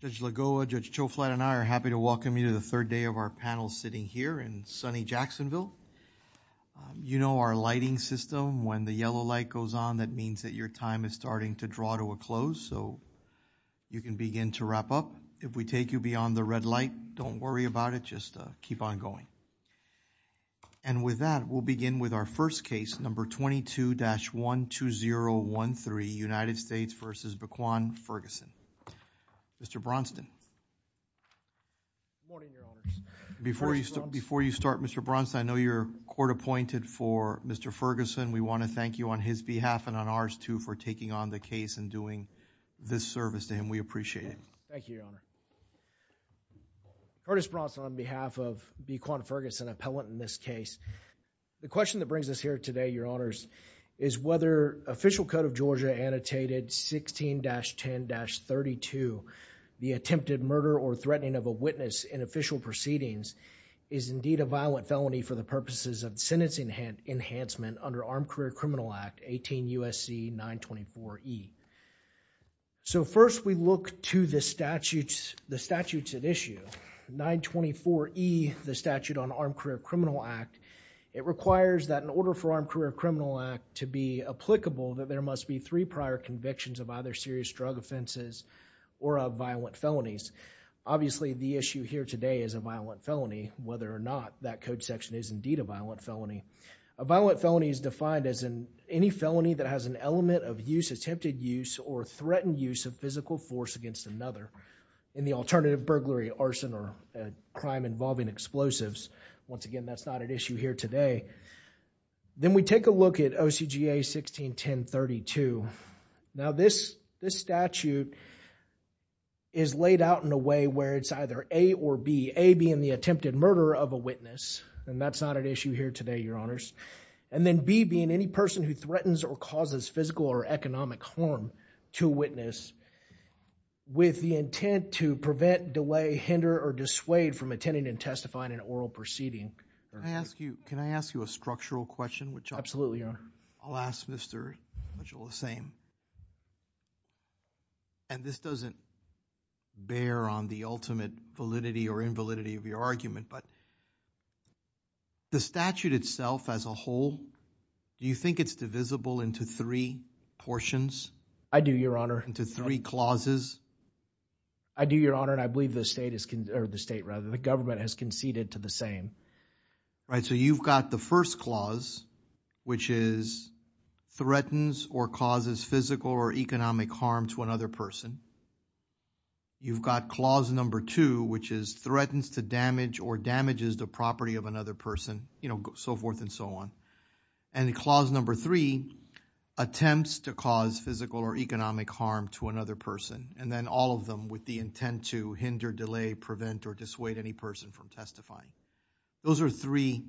Judge Lagoa, Judge Choflat, and I are happy to welcome you to the third day of our panel sitting here in sunny Jacksonville. You know our lighting system. When the yellow light goes on, that means that your time is starting to draw to a close, so you can begin to wrap up. If we take you beyond the red light, don't worry about it. Just keep on going. And with that, we'll begin with our first case, number 22-12013, United States v. B'Quan Ferguson. Mr. Braunston. Before you start, Mr. Braunston, I know you're court-appointed for Mr. Ferguson. We want to thank you on his behalf and on ours, too, for taking on the case and doing this service to him. We appreciate it. Thank you, Your Honor. Curtis Braunston on behalf of B'Quan Ferguson, appellant in this case. The question that brings us here today, Your Honors, is whether official code of Georgia annotated 16-10-32, the attempted murder or threatening of a witness in official proceedings, is indeed a violent felony for the purposes of sentencing enhancement under the Armed Career Criminal Act, 18 U.S.C. 924E. So first, we look to the statutes at issue. 924E, the statute on Armed Career Criminal Act, it requires that in order for Armed Career Criminal Act to be applicable, that there must be three prior convictions of either serious drug offenses or of violent felonies. Obviously, the issue here today is a violent felony, whether or not that code section is indeed a violent felony. A violent felony is defined as any felony that has an element of use, attempted use, or threatened use of physical force against another in the alternative burglary, arson, or crime involving explosives. Once again, that's not at issue here today. Then we take a look at OCGA 16-10-32. Now, this statute is laid out in a way where it's either A or B, A being the attempted murder of a witness, and that's not at issue here today, Your Honors, and then B being any person who threatens or causes physical or economic harm to a witness with the intent to prevent, delay, hinder, or dissuade from attending and testifying in oral proceeding. Can I ask you, can I ask you a structural question? Absolutely, Your Honor. I'll ask Mr. Mitchell the same, and this doesn't bear on the ultimate validity or The statute itself as a whole, do you think it's divisible into three portions? I do, Your Honor. Into three clauses? I do, Your Honor, and I believe the state is, or the state rather, the government has conceded to the same. Right, so you've got the first clause, which is threatens or causes physical or economic harm to another person, you've got clause number two, which is threatens to damage or damages the property of another person, you know, so forth and so on, and clause number three, attempts to cause physical or economic harm to another person, and then all of them with the intent to hinder, delay, prevent, or dissuade any person from testifying. Those are three,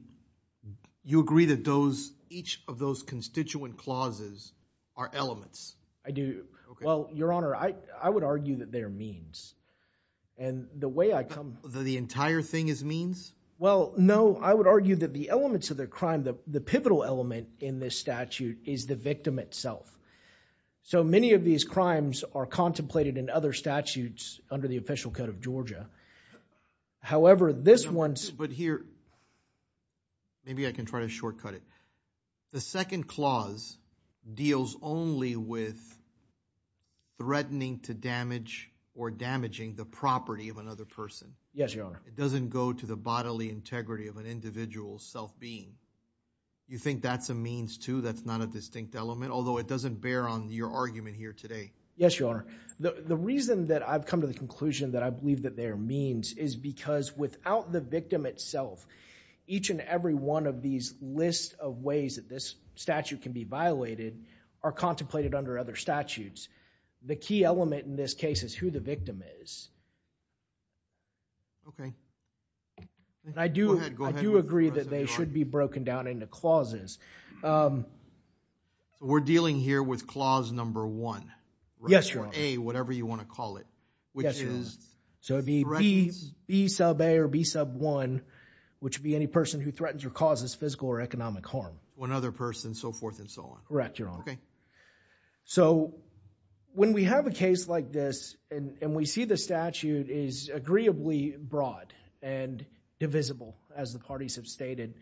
you agree that those, each of those constituent clauses are elements? I do. Well, Your Honor, I would argue that they're means, and the way I come... The entire thing is means? Well, no, I would argue that the elements of the crime, the pivotal element in this statute is the victim itself. So many of these crimes are contemplated in other statutes under the official code of Georgia. However, this one's...... with threatening to damage or damaging the property of another person. Yes, Your Honor. It doesn't go to the bodily integrity of an individual's self-being. You think that's a means, too, that's not a distinct element, although it doesn't bear on your argument here today? Yes, Your Honor. The reason that I've come to the conclusion that I believe that they are means is because without the victim itself, each and every one of these lists of ways that this statute can be violated are contemplated under other statutes. The key element in this case is who the victim is. Okay. I do... Go ahead. I do agree that they should be broken down into clauses. We're dealing here with clause number one, right? Yes, Your Honor. Or A, whatever you want to call it, which is...... which would be any person who threatens or causes physical or economic harm. One other person, so forth and so on. Correct, Your Honor. Okay. So when we have a case like this and we see the statute is agreeably broad and divisible, as the parties have stated,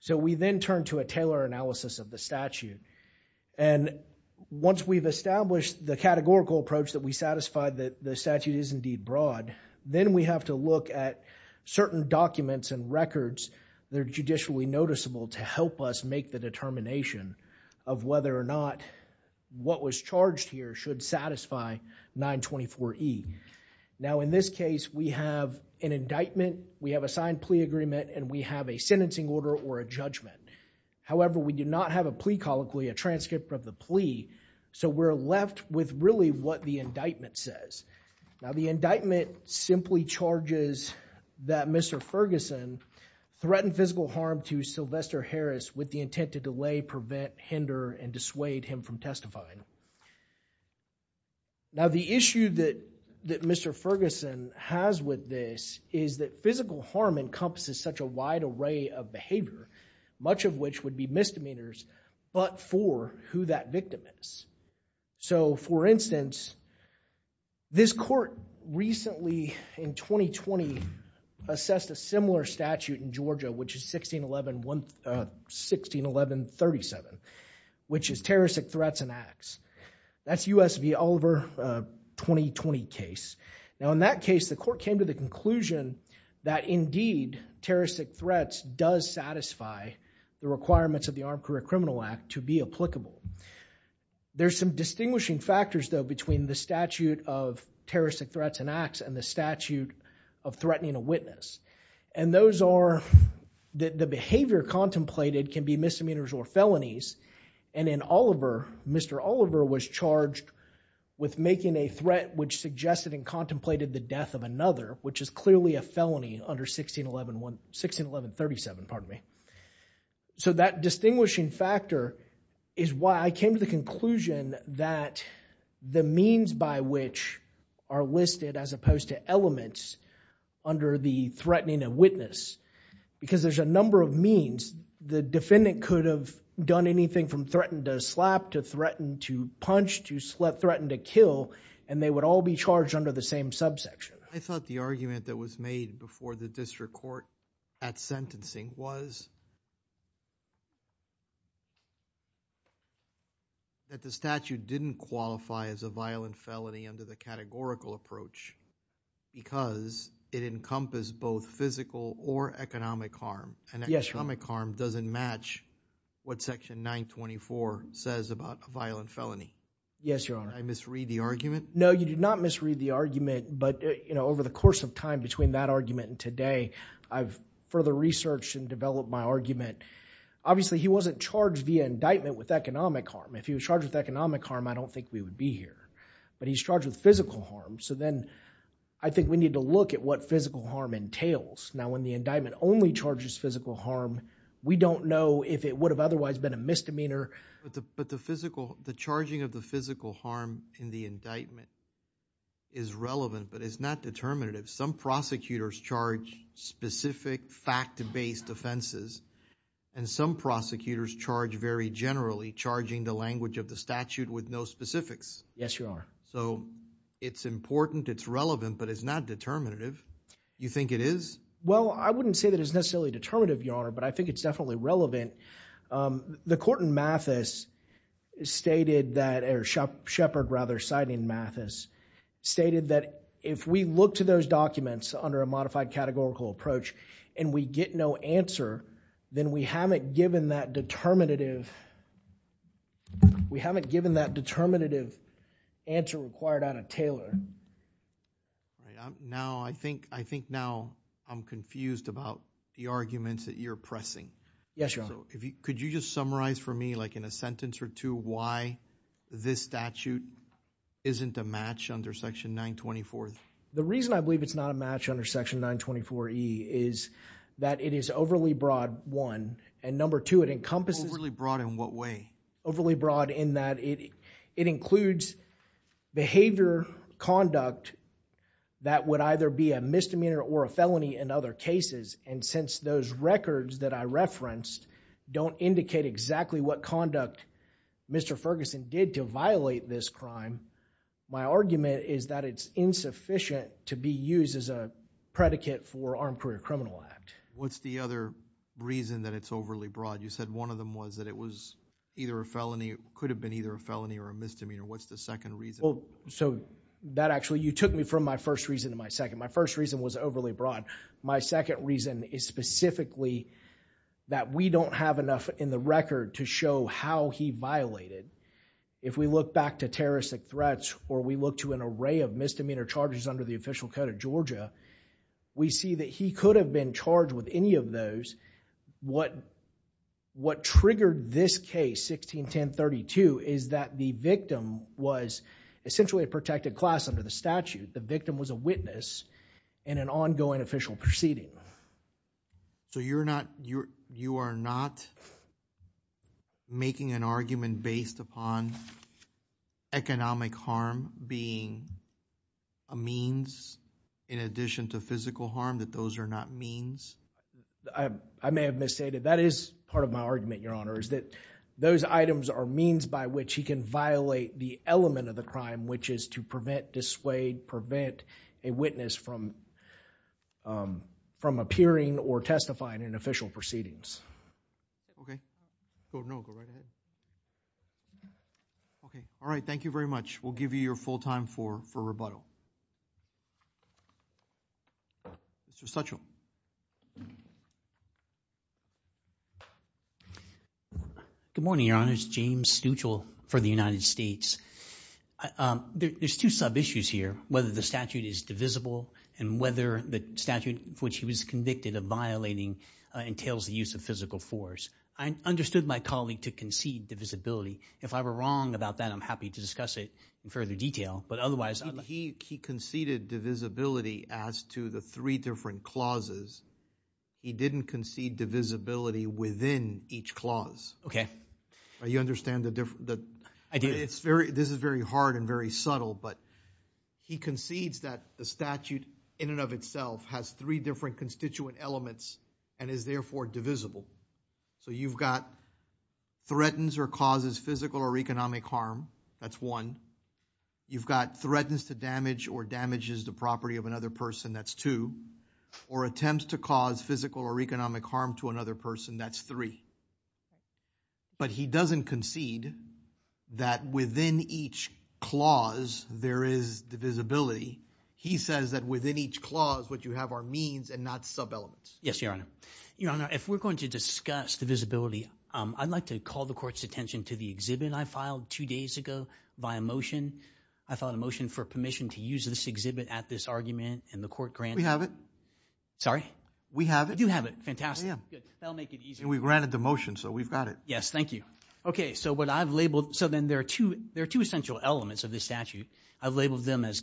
so we then turn to a Taylor analysis of the statute. And once we've established the categorical approach that we satisfied that the statute is indeed broad, then we have to look at certain documents and records that are judicially noticeable to help us make the determination of whether or not what was charged here should satisfy 924E. Now, in this case, we have an indictment, we have a signed plea agreement, and we have a sentencing order or a judgment. However, we do not have a plea colloquy, a transcript of the plea, so we're left with really what the indictment says. Now, the indictment simply charges that Mr. Ferguson threatened physical harm to Sylvester Harris with the intent to delay, prevent, hinder, and dissuade him from testifying. Now, the issue that Mr. Ferguson has with this is that physical harm encompasses such a wide array of behavior, much of which would be misdemeanors, but for who that victim is. So, for instance, this court recently, in 2020, assessed a similar statute in Georgia, which is 161137, which is terroristic threats and acts. That's U.S. v. Oliver 2020 case. Now, in that case, the court came to the conclusion that, indeed, terroristic threats does satisfy the requirements of the Armed Career Criminal Act to be applicable. There's some distinguishing factors, though, between the statute of terroristic threats and acts and the statute of threatening a witness, and those are that the behavior contemplated can be misdemeanors or felonies, and in Oliver, Mr. Oliver was charged with making a threat which suggested and contemplated the death of another, which is clearly a felony under 161137, pardon me. So, that distinguishing factor is why I came to the conclusion that the means by which are listed, as opposed to elements, under the threatening a witness, because there's a number of means. The defendant could have done anything from threaten to slap, to threaten to punch, to threaten to kill, and they would all be charged under the same subsection. I thought the argument that was made before the district court at sentencing was that the statute didn't qualify as a violent felony under the categorical approach because it encompassed both physical or economic harm, and economic harm doesn't match what Section 924 says about a violent felony. Yes, Your Honor. Did I misread the argument? No, you did not misread the argument, but over the course of time between that argument and today, I've further researched and developed my argument. Obviously, he wasn't charged via indictment with economic harm. If he was charged with economic harm, I don't think we would be here, but he's charged with physical harm, so then I think we need to look at what physical harm entails. Now, when the indictment only charges physical harm, we don't know if it would have otherwise been a misdemeanor. But the charging of the physical harm in the indictment is relevant, but it's not determinative. Some prosecutors charge specific fact-based offenses, and some prosecutors charge very generally, charging the language of the statute with no specifics. Yes, Your Honor. So it's important, it's relevant, but it's not determinative. You think it is? Well, I wouldn't say that it's necessarily determinative, Your Honor, but I think it's definitely relevant. The court in Mathis stated that, or Shepard, rather, citing Mathis, stated that if we look to those documents under a modified categorical approach and we get no answer, then we haven't given that determinative answer required out of Taylor. Now, I think now I'm confused about the arguments that you're pressing. Yes, Your Honor. Could you just summarize for me, like in a sentence or two, why this statute isn't a match under Section 924? The reason I believe it's not a match under Section 924E is that it is overly broad, one. And number two, it encompasses— Overly broad in what way? Overly broad in that it includes behavior conduct that would either be a misdemeanor or a felony in other cases. And since those records that I referenced don't indicate exactly what conduct Mr. Ferguson did to violate this crime, my argument is that it's insufficient to be used as a predicate for Armed Career Criminal Act. What's the other reason that it's overly broad? You said one of them was that it was either a felony, could have been either a felony or a misdemeanor. What's the second reason? So, that actually, you took me from my first reason to my second. My first reason was overly broad. My second reason is specifically that we don't have enough in the record to show how he violated. If we look back to terroristic threats or we look to an array of misdemeanor charges under the official code of Georgia, we see that he could have been charged with any of those. What triggered this case, 161032, is that the victim was essentially a protected class under the statute. The victim was a witness in an ongoing official proceeding. So, you are not making an argument based upon economic harm being a means in addition to physical harm, that those are not means? I may have misstated. That is part of my argument, Your Honor, is that those items are means by which he can violate the element of the crime, which is to prevent, dissuade, prevent a witness from appearing or testifying in official proceedings. Okay. Go right ahead. Okay. All right, thank you very much. We'll give you your full time for rebuttal. Mr. Stuchel. Good morning, Your Honor. It's James Stuchel for the United States. There are two sub-issues here, whether the statute is divisible and whether the statute for which he was convicted of violating entails the use of physical force. I understood my colleague to concede divisibility. If I were wrong about that, I'm happy to discuss it in further detail. He conceded divisibility as to the three different clauses. He didn't concede divisibility within each clause. Okay. You understand the difference? I do. This is very hard and very subtle, but he concedes that the statute in and of itself has three different constituent elements and is therefore divisible. So you've got threatens or causes physical or economic harm. That's one. You've got threatens to damage or damages the property of another person. That's two. Or attempts to cause physical or economic harm to another person. That's three. But he doesn't concede that within each clause there is divisibility. He says that within each clause what you have are means and not sub-elements. Yes, Your Honor. Your Honor, if we're going to discuss divisibility, I'd like to call the Court's attention to the exhibit I filed two days ago by a motion. I filed a motion for permission to use this exhibit at this argument, and the Court granted it. We have it. Sorry? We have it. We do have it. Fantastic. We granted the motion, so we've got it. Yes. Thank you. Okay. So then there are two essential elements of this statute. I've labeled them as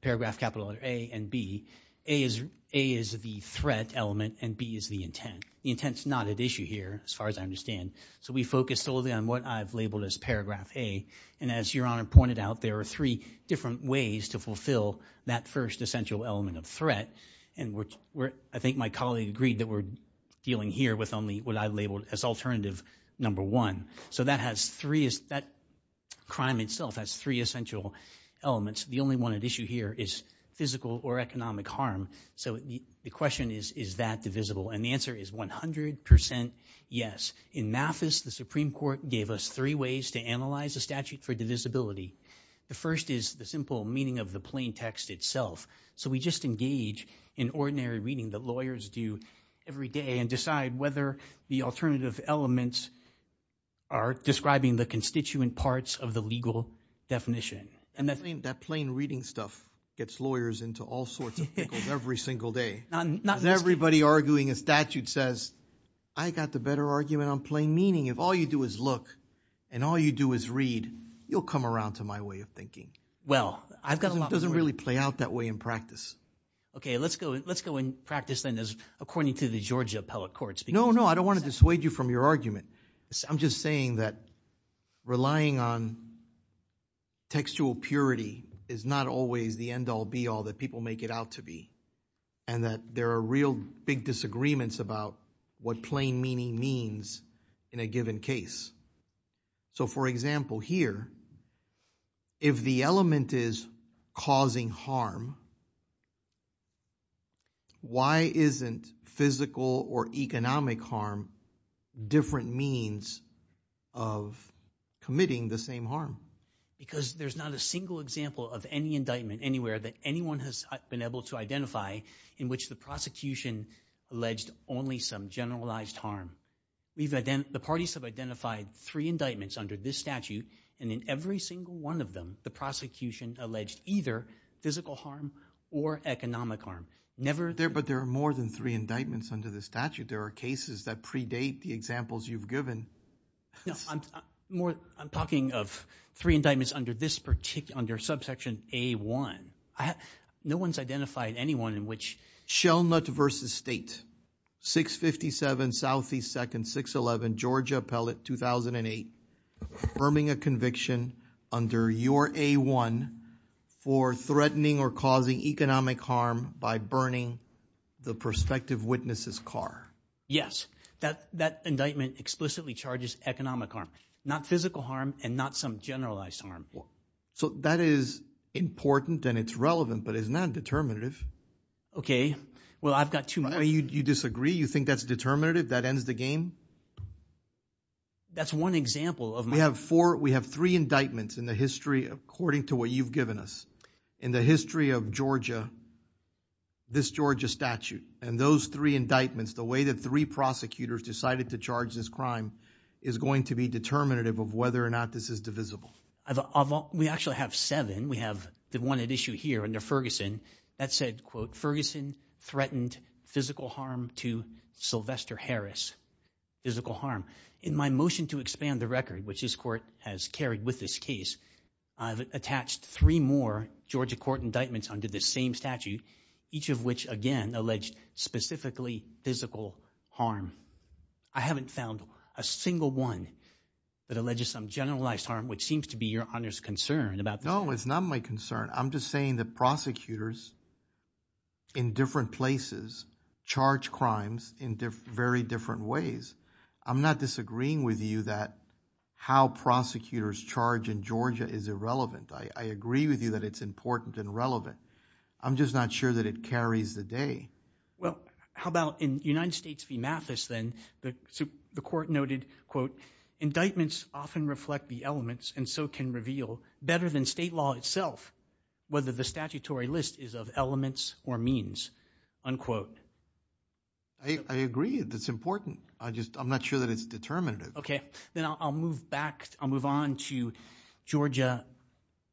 paragraph capital A and B. A is the threat element, and B is the intent. The intent is not at issue here, as far as I understand. So we focused solely on what I've labeled as paragraph A. And as Your Honor pointed out, there are three different ways to fulfill that first essential element of threat. And I think my colleague agreed that we're dealing here with only what I've labeled as alternative number one. So that crime itself has three essential elements. The only one at issue here is physical or economic harm. So the question is, is that divisible? And the answer is 100% yes. In MAFIS, the Supreme Court gave us three ways to analyze a statute for divisibility. The first is the simple meaning of the plain text itself. So we just engage in ordinary reading that lawyers do every day and decide whether the alternative elements are describing the constituent parts of the legal definition. That plain reading stuff gets lawyers into all sorts of pickles every single day. Everybody arguing a statute says, I got the better argument on plain meaning. If all you do is look and all you do is read, you'll come around to my way of thinking. It doesn't really play out that way in practice. Okay, let's go in practice then as according to the Georgia appellate courts. No, no, I don't want to dissuade you from your argument. I'm just saying that relying on textual purity is not always the end all be all that people make it out to be. And that there are real big disagreements about what plain meaning means in a given case. So for example here, if the element is causing harm, why isn't physical or economic harm different means of committing the same harm? Because there's not a single example of any indictment anywhere that anyone has been able to identify in which the prosecution alleged only some generalized harm. The parties have identified three indictments under this statute and in every single one of them, the prosecution alleged either physical harm or economic harm. But there are more than three indictments under the statute. There are cases that predate the examples you've given. I'm talking of three indictments under subsection A1. No one's identified anyone in which – Shell Nut versus State, 657 Southeast 2nd, 611 Georgia Appellate, 2008. Affirming a conviction under your A1 for threatening or causing economic harm by burning the prospective witness's car. Yes, that indictment explicitly charges economic harm, not physical harm and not some generalized harm. So that is important and it's relevant but it's not determinative. Okay. Well, I've got two more. You disagree? You think that's determinative? That ends the game? That's one example of my – We have four – we have three indictments in the history according to what you've given us. In the history of Georgia, this Georgia statute and those three indictments, the way that three prosecutors decided to charge this crime is going to be determinative of whether or not this is divisible. We actually have seven. We have the one at issue here under Ferguson. That said, quote, Ferguson threatened physical harm to Sylvester Harris. Physical harm. In my motion to expand the record, which this court has carried with this case, I've attached three more Georgia court indictments under this same statute, each of which, again, alleged specifically physical harm. I haven't found a single one that alleges some generalized harm, which seems to be Your Honor's concern about this. No, it's not my concern. I'm just saying that prosecutors in different places charge crimes in very different ways. I'm not disagreeing with you that how prosecutors charge in Georgia is irrelevant. I agree with you that it's important and relevant. I'm just not sure that it carries the day. Well, how about in United States v. Mathis then? The court noted, quote, indictments often reflect the elements and so can reveal better than state law itself whether the statutory list is of elements or means, unquote. I agree. That's important. I just I'm not sure that it's determinative. OK, then I'll move back. I'll move on to Georgia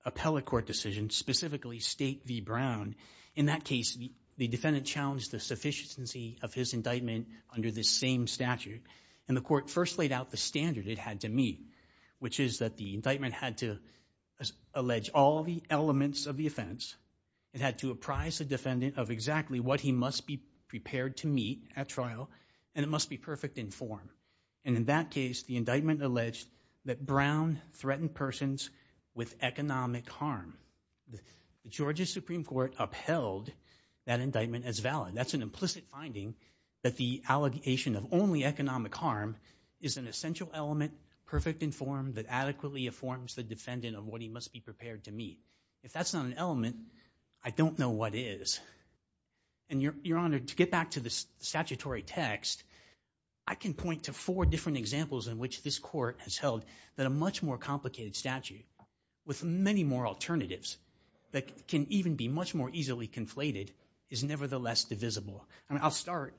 appellate court decision, specifically state v. Brown. In that case, the defendant challenged the sufficiency of his indictment under this same statute. And the court first laid out the standard it had to meet, which is that the indictment had to allege all the elements of the offense. It had to apprise the defendant of exactly what he must be prepared to meet at trial, and it must be perfect in form. And in that case, the indictment alleged that Brown threatened persons with economic harm. The Georgia Supreme Court upheld that indictment as valid. That's an implicit finding that the allegation of only economic harm is an essential element, perfect in form, that adequately informs the defendant of what he must be prepared to meet. If that's not an element, I don't know what is. Your Honor, to get back to the statutory text, I can point to four different examples in which this court has held that a much more complicated statute with many more alternatives that can even be much more easily conflated is nevertheless divisible. I'll start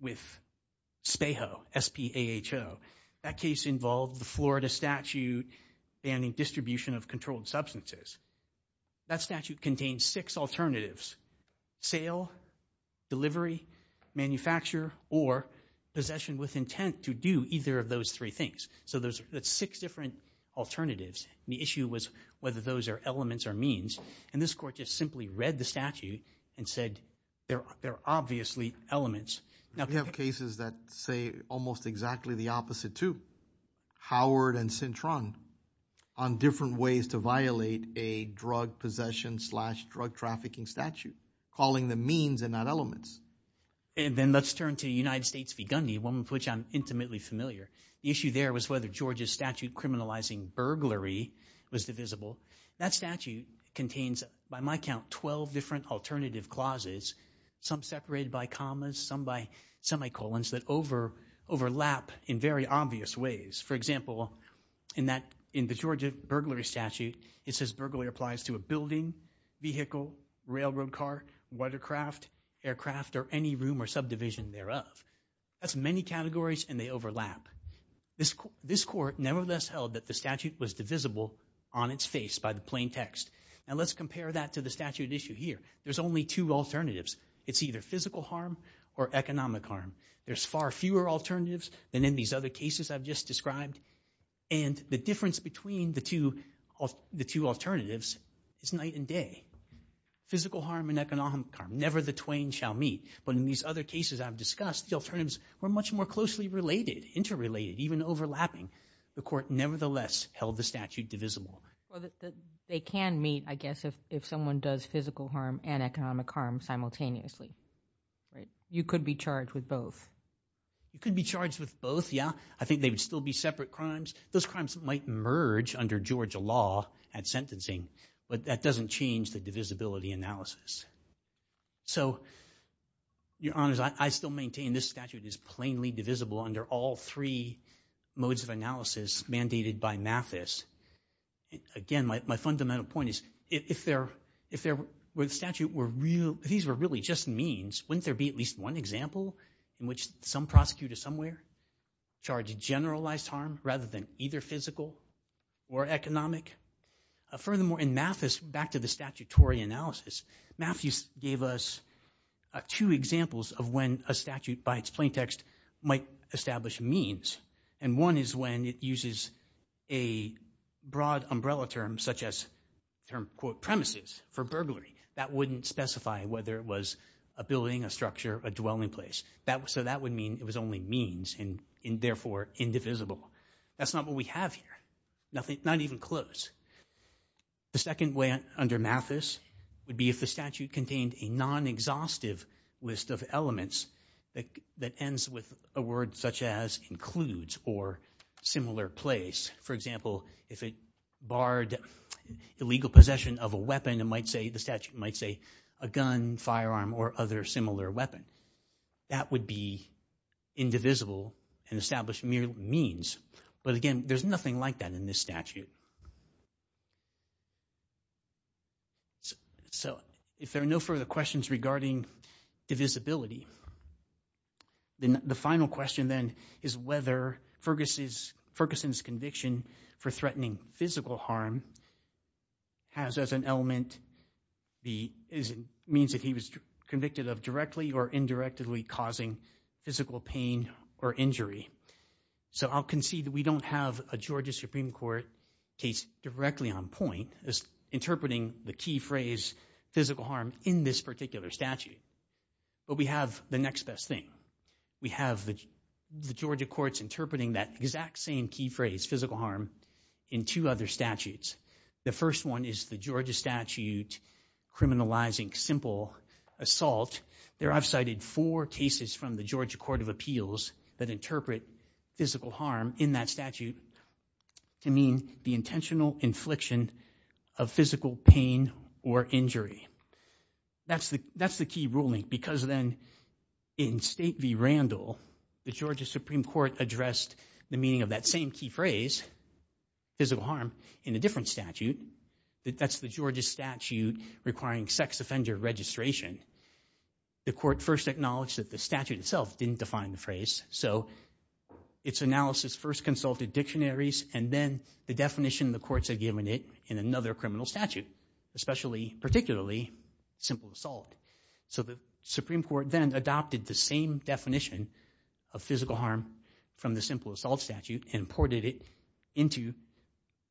with SPAHO, S-P-A-H-O. That case involved the Florida statute banning distribution of controlled substances. That statute contains six alternatives, sale, delivery, manufacture, or possession with intent to do either of those three things. So there's six different alternatives, and the issue was whether those are elements or means. And this court just simply read the statute and said there are obviously elements. We have cases that say almost exactly the opposite, too. Howard and Cintron on different ways to violate a drug possession slash drug trafficking statute, calling them means and not elements. And then let's turn to United States v. Gundy, one of which I'm intimately familiar. The issue there was whether Georgia's statute criminalizing burglary was divisible. That statute contains, by my count, 12 different alternative clauses, some separated by commas, some by semicolons, that overlap in very obvious ways. For example, in the Georgia burglary statute, it says burglary applies to a building, vehicle, railroad car, watercraft, aircraft, or any room or subdivision thereof. That's many categories, and they overlap. This court nevertheless held that the statute was divisible on its face by the plain text. Now let's compare that to the statute at issue here. There's only two alternatives. It's either physical harm or economic harm. There's far fewer alternatives than in these other cases I've just described, and the difference between the two alternatives is night and day. Physical harm and economic harm, never the twain shall meet. But in these other cases I've discussed, the alternatives were much more closely related, interrelated, even overlapping. The court nevertheless held the statute divisible. They can meet, I guess, if someone does physical harm and economic harm simultaneously. You could be charged with both. You could be charged with both, yeah. I think they would still be separate crimes. Those crimes might merge under Georgia law at sentencing, but that doesn't change the divisibility analysis. So, Your Honors, I still maintain this statute is plainly divisible under all three modes of analysis mandated by Mathis. Again, my fundamental point is if the statute were real, if these were really just means, wouldn't there be at least one example in which some prosecutor somewhere charged generalized harm rather than either physical or economic? Furthermore, in Mathis, back to the statutory analysis, Mathis gave us two examples of when a statute by its plaintext might establish means. And one is when it uses a broad umbrella term such as the term, quote, premises for burglary. That wouldn't specify whether it was a building, a structure, a dwelling place. So that would mean it was only means and, therefore, indivisible. That's not what we have here, not even close. The second way under Mathis would be if the statute contained a non-exhaustive list of elements that ends with a word such as includes or similar place. For example, if it barred illegal possession of a weapon, the statute might say a gun, firearm, or other similar weapon. That would be indivisible and establish mere means. But, again, there's nothing like that in this statute. So if there are no further questions regarding divisibility, then the final question then is whether Ferguson's conviction for threatening physical harm has as an element, means that he was convicted of directly or indirectly causing physical pain or injury. So I'll concede that we don't have a Georgia Supreme Court case directly on point as interpreting the key phrase physical harm in this particular statute. But we have the next best thing. We have the Georgia courts interpreting that exact same key phrase, physical harm, in two other statutes. The first one is the Georgia statute criminalizing simple assault. There I've cited four cases from the Georgia Court of Appeals that interpret physical harm in that statute to mean the intentional infliction of physical pain or injury. That's the key ruling because then in State v. Randall, the Georgia Supreme Court addressed the meaning of that same key phrase, physical harm, in a different statute. That's the Georgia statute requiring sex offender registration. The court first acknowledged that the statute itself didn't define the phrase. So its analysis first consulted dictionaries and then the definition the courts had given it in another criminal statute, particularly simple assault. So the Supreme Court then adopted the same definition of physical harm from the simple assault statute and imported it into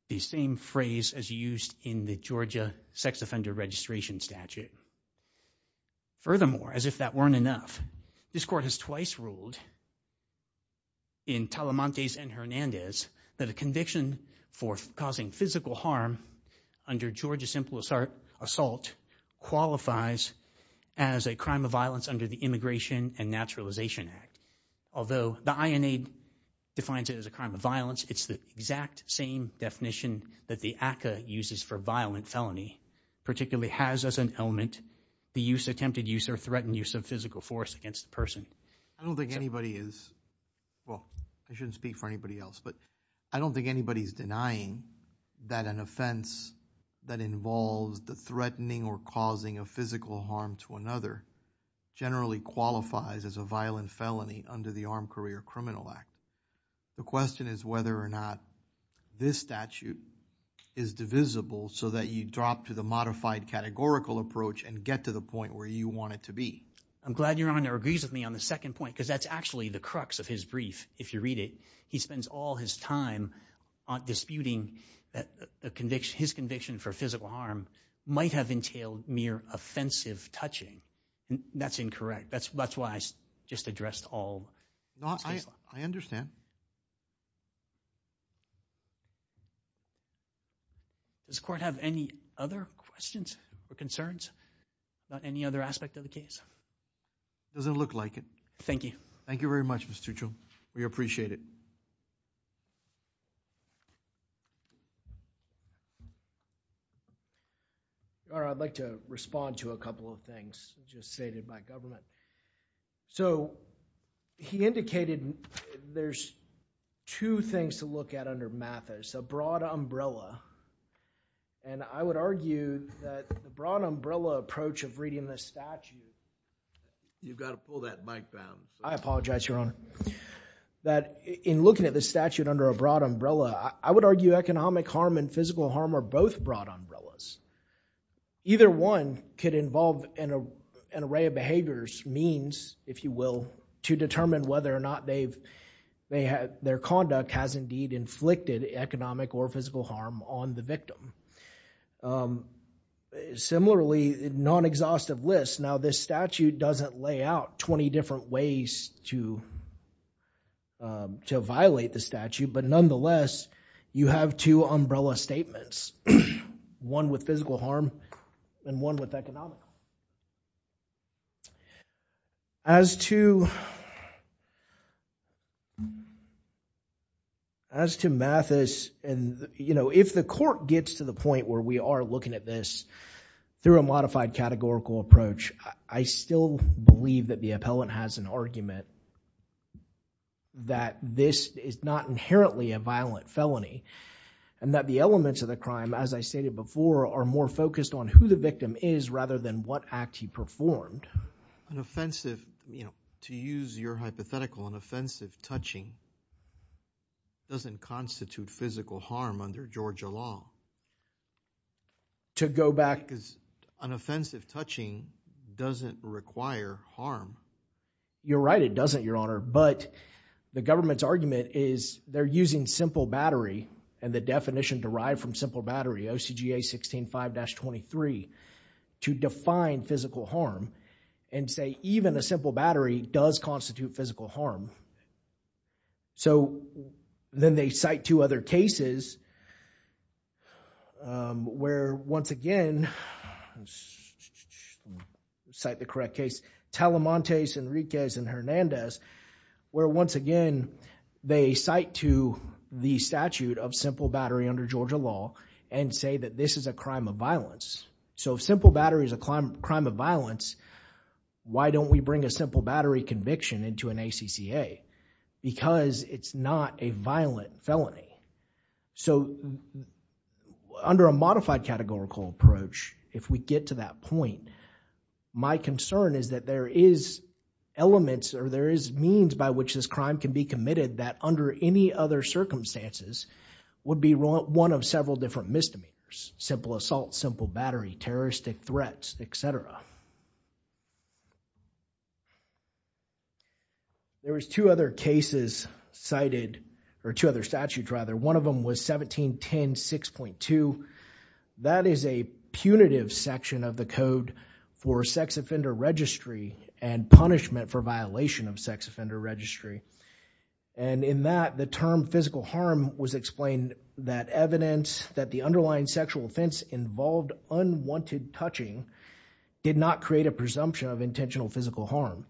the same phrase as used in the Georgia sex offender registration statute. Furthermore, as if that weren't enough, this court has twice ruled in Talamante's and Hernandez that a conviction for causing physical harm under Georgia simple assault qualifies as a crime of violence under the Immigration and Naturalization Act. Although the INA defines it as a crime of violence, it's the exact same definition that the ACCA uses for violent felony, particularly has as an element the use, attempted use, or threatened use of physical force against the person. I don't think anybody is, well, I shouldn't speak for anybody else, but I don't think anybody's denying that an offense that involves the threatening or causing of physical harm to another generally qualifies as a violent felony under the Armed Career Criminal Act. The question is whether or not this statute is divisible so that you drop to the modified categorical approach and get to the point where you want it to be. I'm glad Your Honor agrees with me on the second point, because that's actually the crux of his brief, if you read it. He spends all his time on disputing that his conviction for physical harm might have entailed mere offensive touching. That's incorrect. That's why I just addressed all. No, I understand. Does the court have any other questions or concerns about any other aspect of the case? It doesn't look like it. Thank you. Thank you very much, Mr. Tuchel. We appreciate it. Your Honor, I'd like to respond to a couple of things just stated by Govlin. So, he indicated there's two things to look at under Mathis, a broad umbrella, and I would argue that the broad umbrella approach of reading this statute... You've got to pull that mic down. I apologize, Your Honor. That in looking at this statute under a broad umbrella, I would argue economic harm and physical harm are both broad umbrellas. Either one could involve an array of behaviors, means, if you will, to determine whether or not their conduct has indeed inflicted economic or physical harm on the victim. Similarly, non-exhaustive lists. Now, this statute doesn't lay out 20 different ways to violate the statute, but nonetheless, you have two umbrella statements. One with physical harm and one with economic harm. As to Mathis... You know, if the court gets to the point where we are looking at this through a modified categorical approach, I still believe that the appellant has an argument that this is not inherently a violent felony and that the elements of the crime, as I stated before, are more focused on who the victim is rather than what act he performed. An offensive... you know, to use your hypothetical, an offensive touching doesn't constitute physical harm under Georgia law. To go back... Because an offensive touching doesn't require harm. You're right, it doesn't, Your Honor, but the government's argument is they're using simple battery and the definition derived from simple battery, OCGA 16.5-23, to define physical harm and say even a simple battery does constitute physical harm. So, then they cite two other cases where, once again... cite the correct case, Telemontes, Enriquez, and Hernandez, where, once again, they cite to the statute of simple battery under Georgia law and say that this is a crime of violence. So, if simple battery is a crime of violence, why don't we bring a simple battery conviction into an ACCA? Because it's not a violent felony. So, under a modified categorical approach, if we get to that point, my concern is that there is elements or there is means by which this crime can be committed that under any other circumstances would be one of several different misdemeanors. Simple assault, simple battery, terroristic threats, etc. There was two other cases cited, or two other statutes rather. One of them was 1710-6.2. That is a punitive section of the code for sex offender registry and punishment for violation of sex offender registry. And in that, the term physical harm was explained that evidence that the underlying sexual offense involved unwanted touching did not create a presumption of intentional physical harm.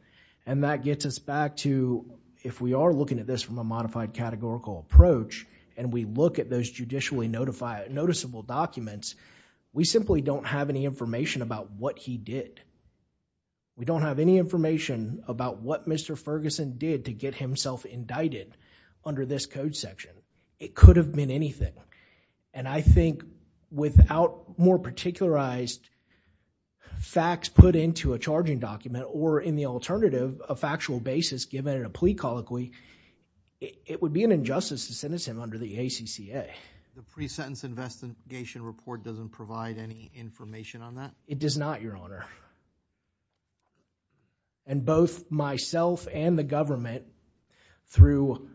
And that gets us back to, if we are looking at this from a modified categorical approach, and we look at those judicially noticeable documents, we simply don't have any information about what he did. We don't have any information about what Mr. Ferguson did to get himself indicted under this code section. It could have been anything. And I think without more particularized facts put into a charging document, or in the alternative, a factual basis given in a plea colloquy, it would be an injustice to sentence him under the ACCA. The pre-sentence investigation report doesn't provide any information on that? It does not, Your Honor. And both myself and the government, through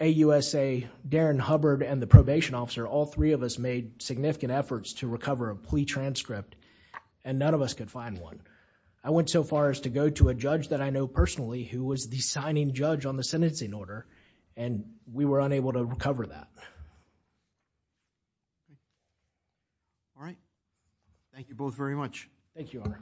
AUSA, Darren Hubbard, and the probation officer, all three of us made significant efforts to recover a plea transcript, and none of us could find one. I went so far as to go to a judge that I know personally who was the signing judge on the sentencing order, and we were unable to recover that. All right. Thank you both very much. Thank you, Your Honor.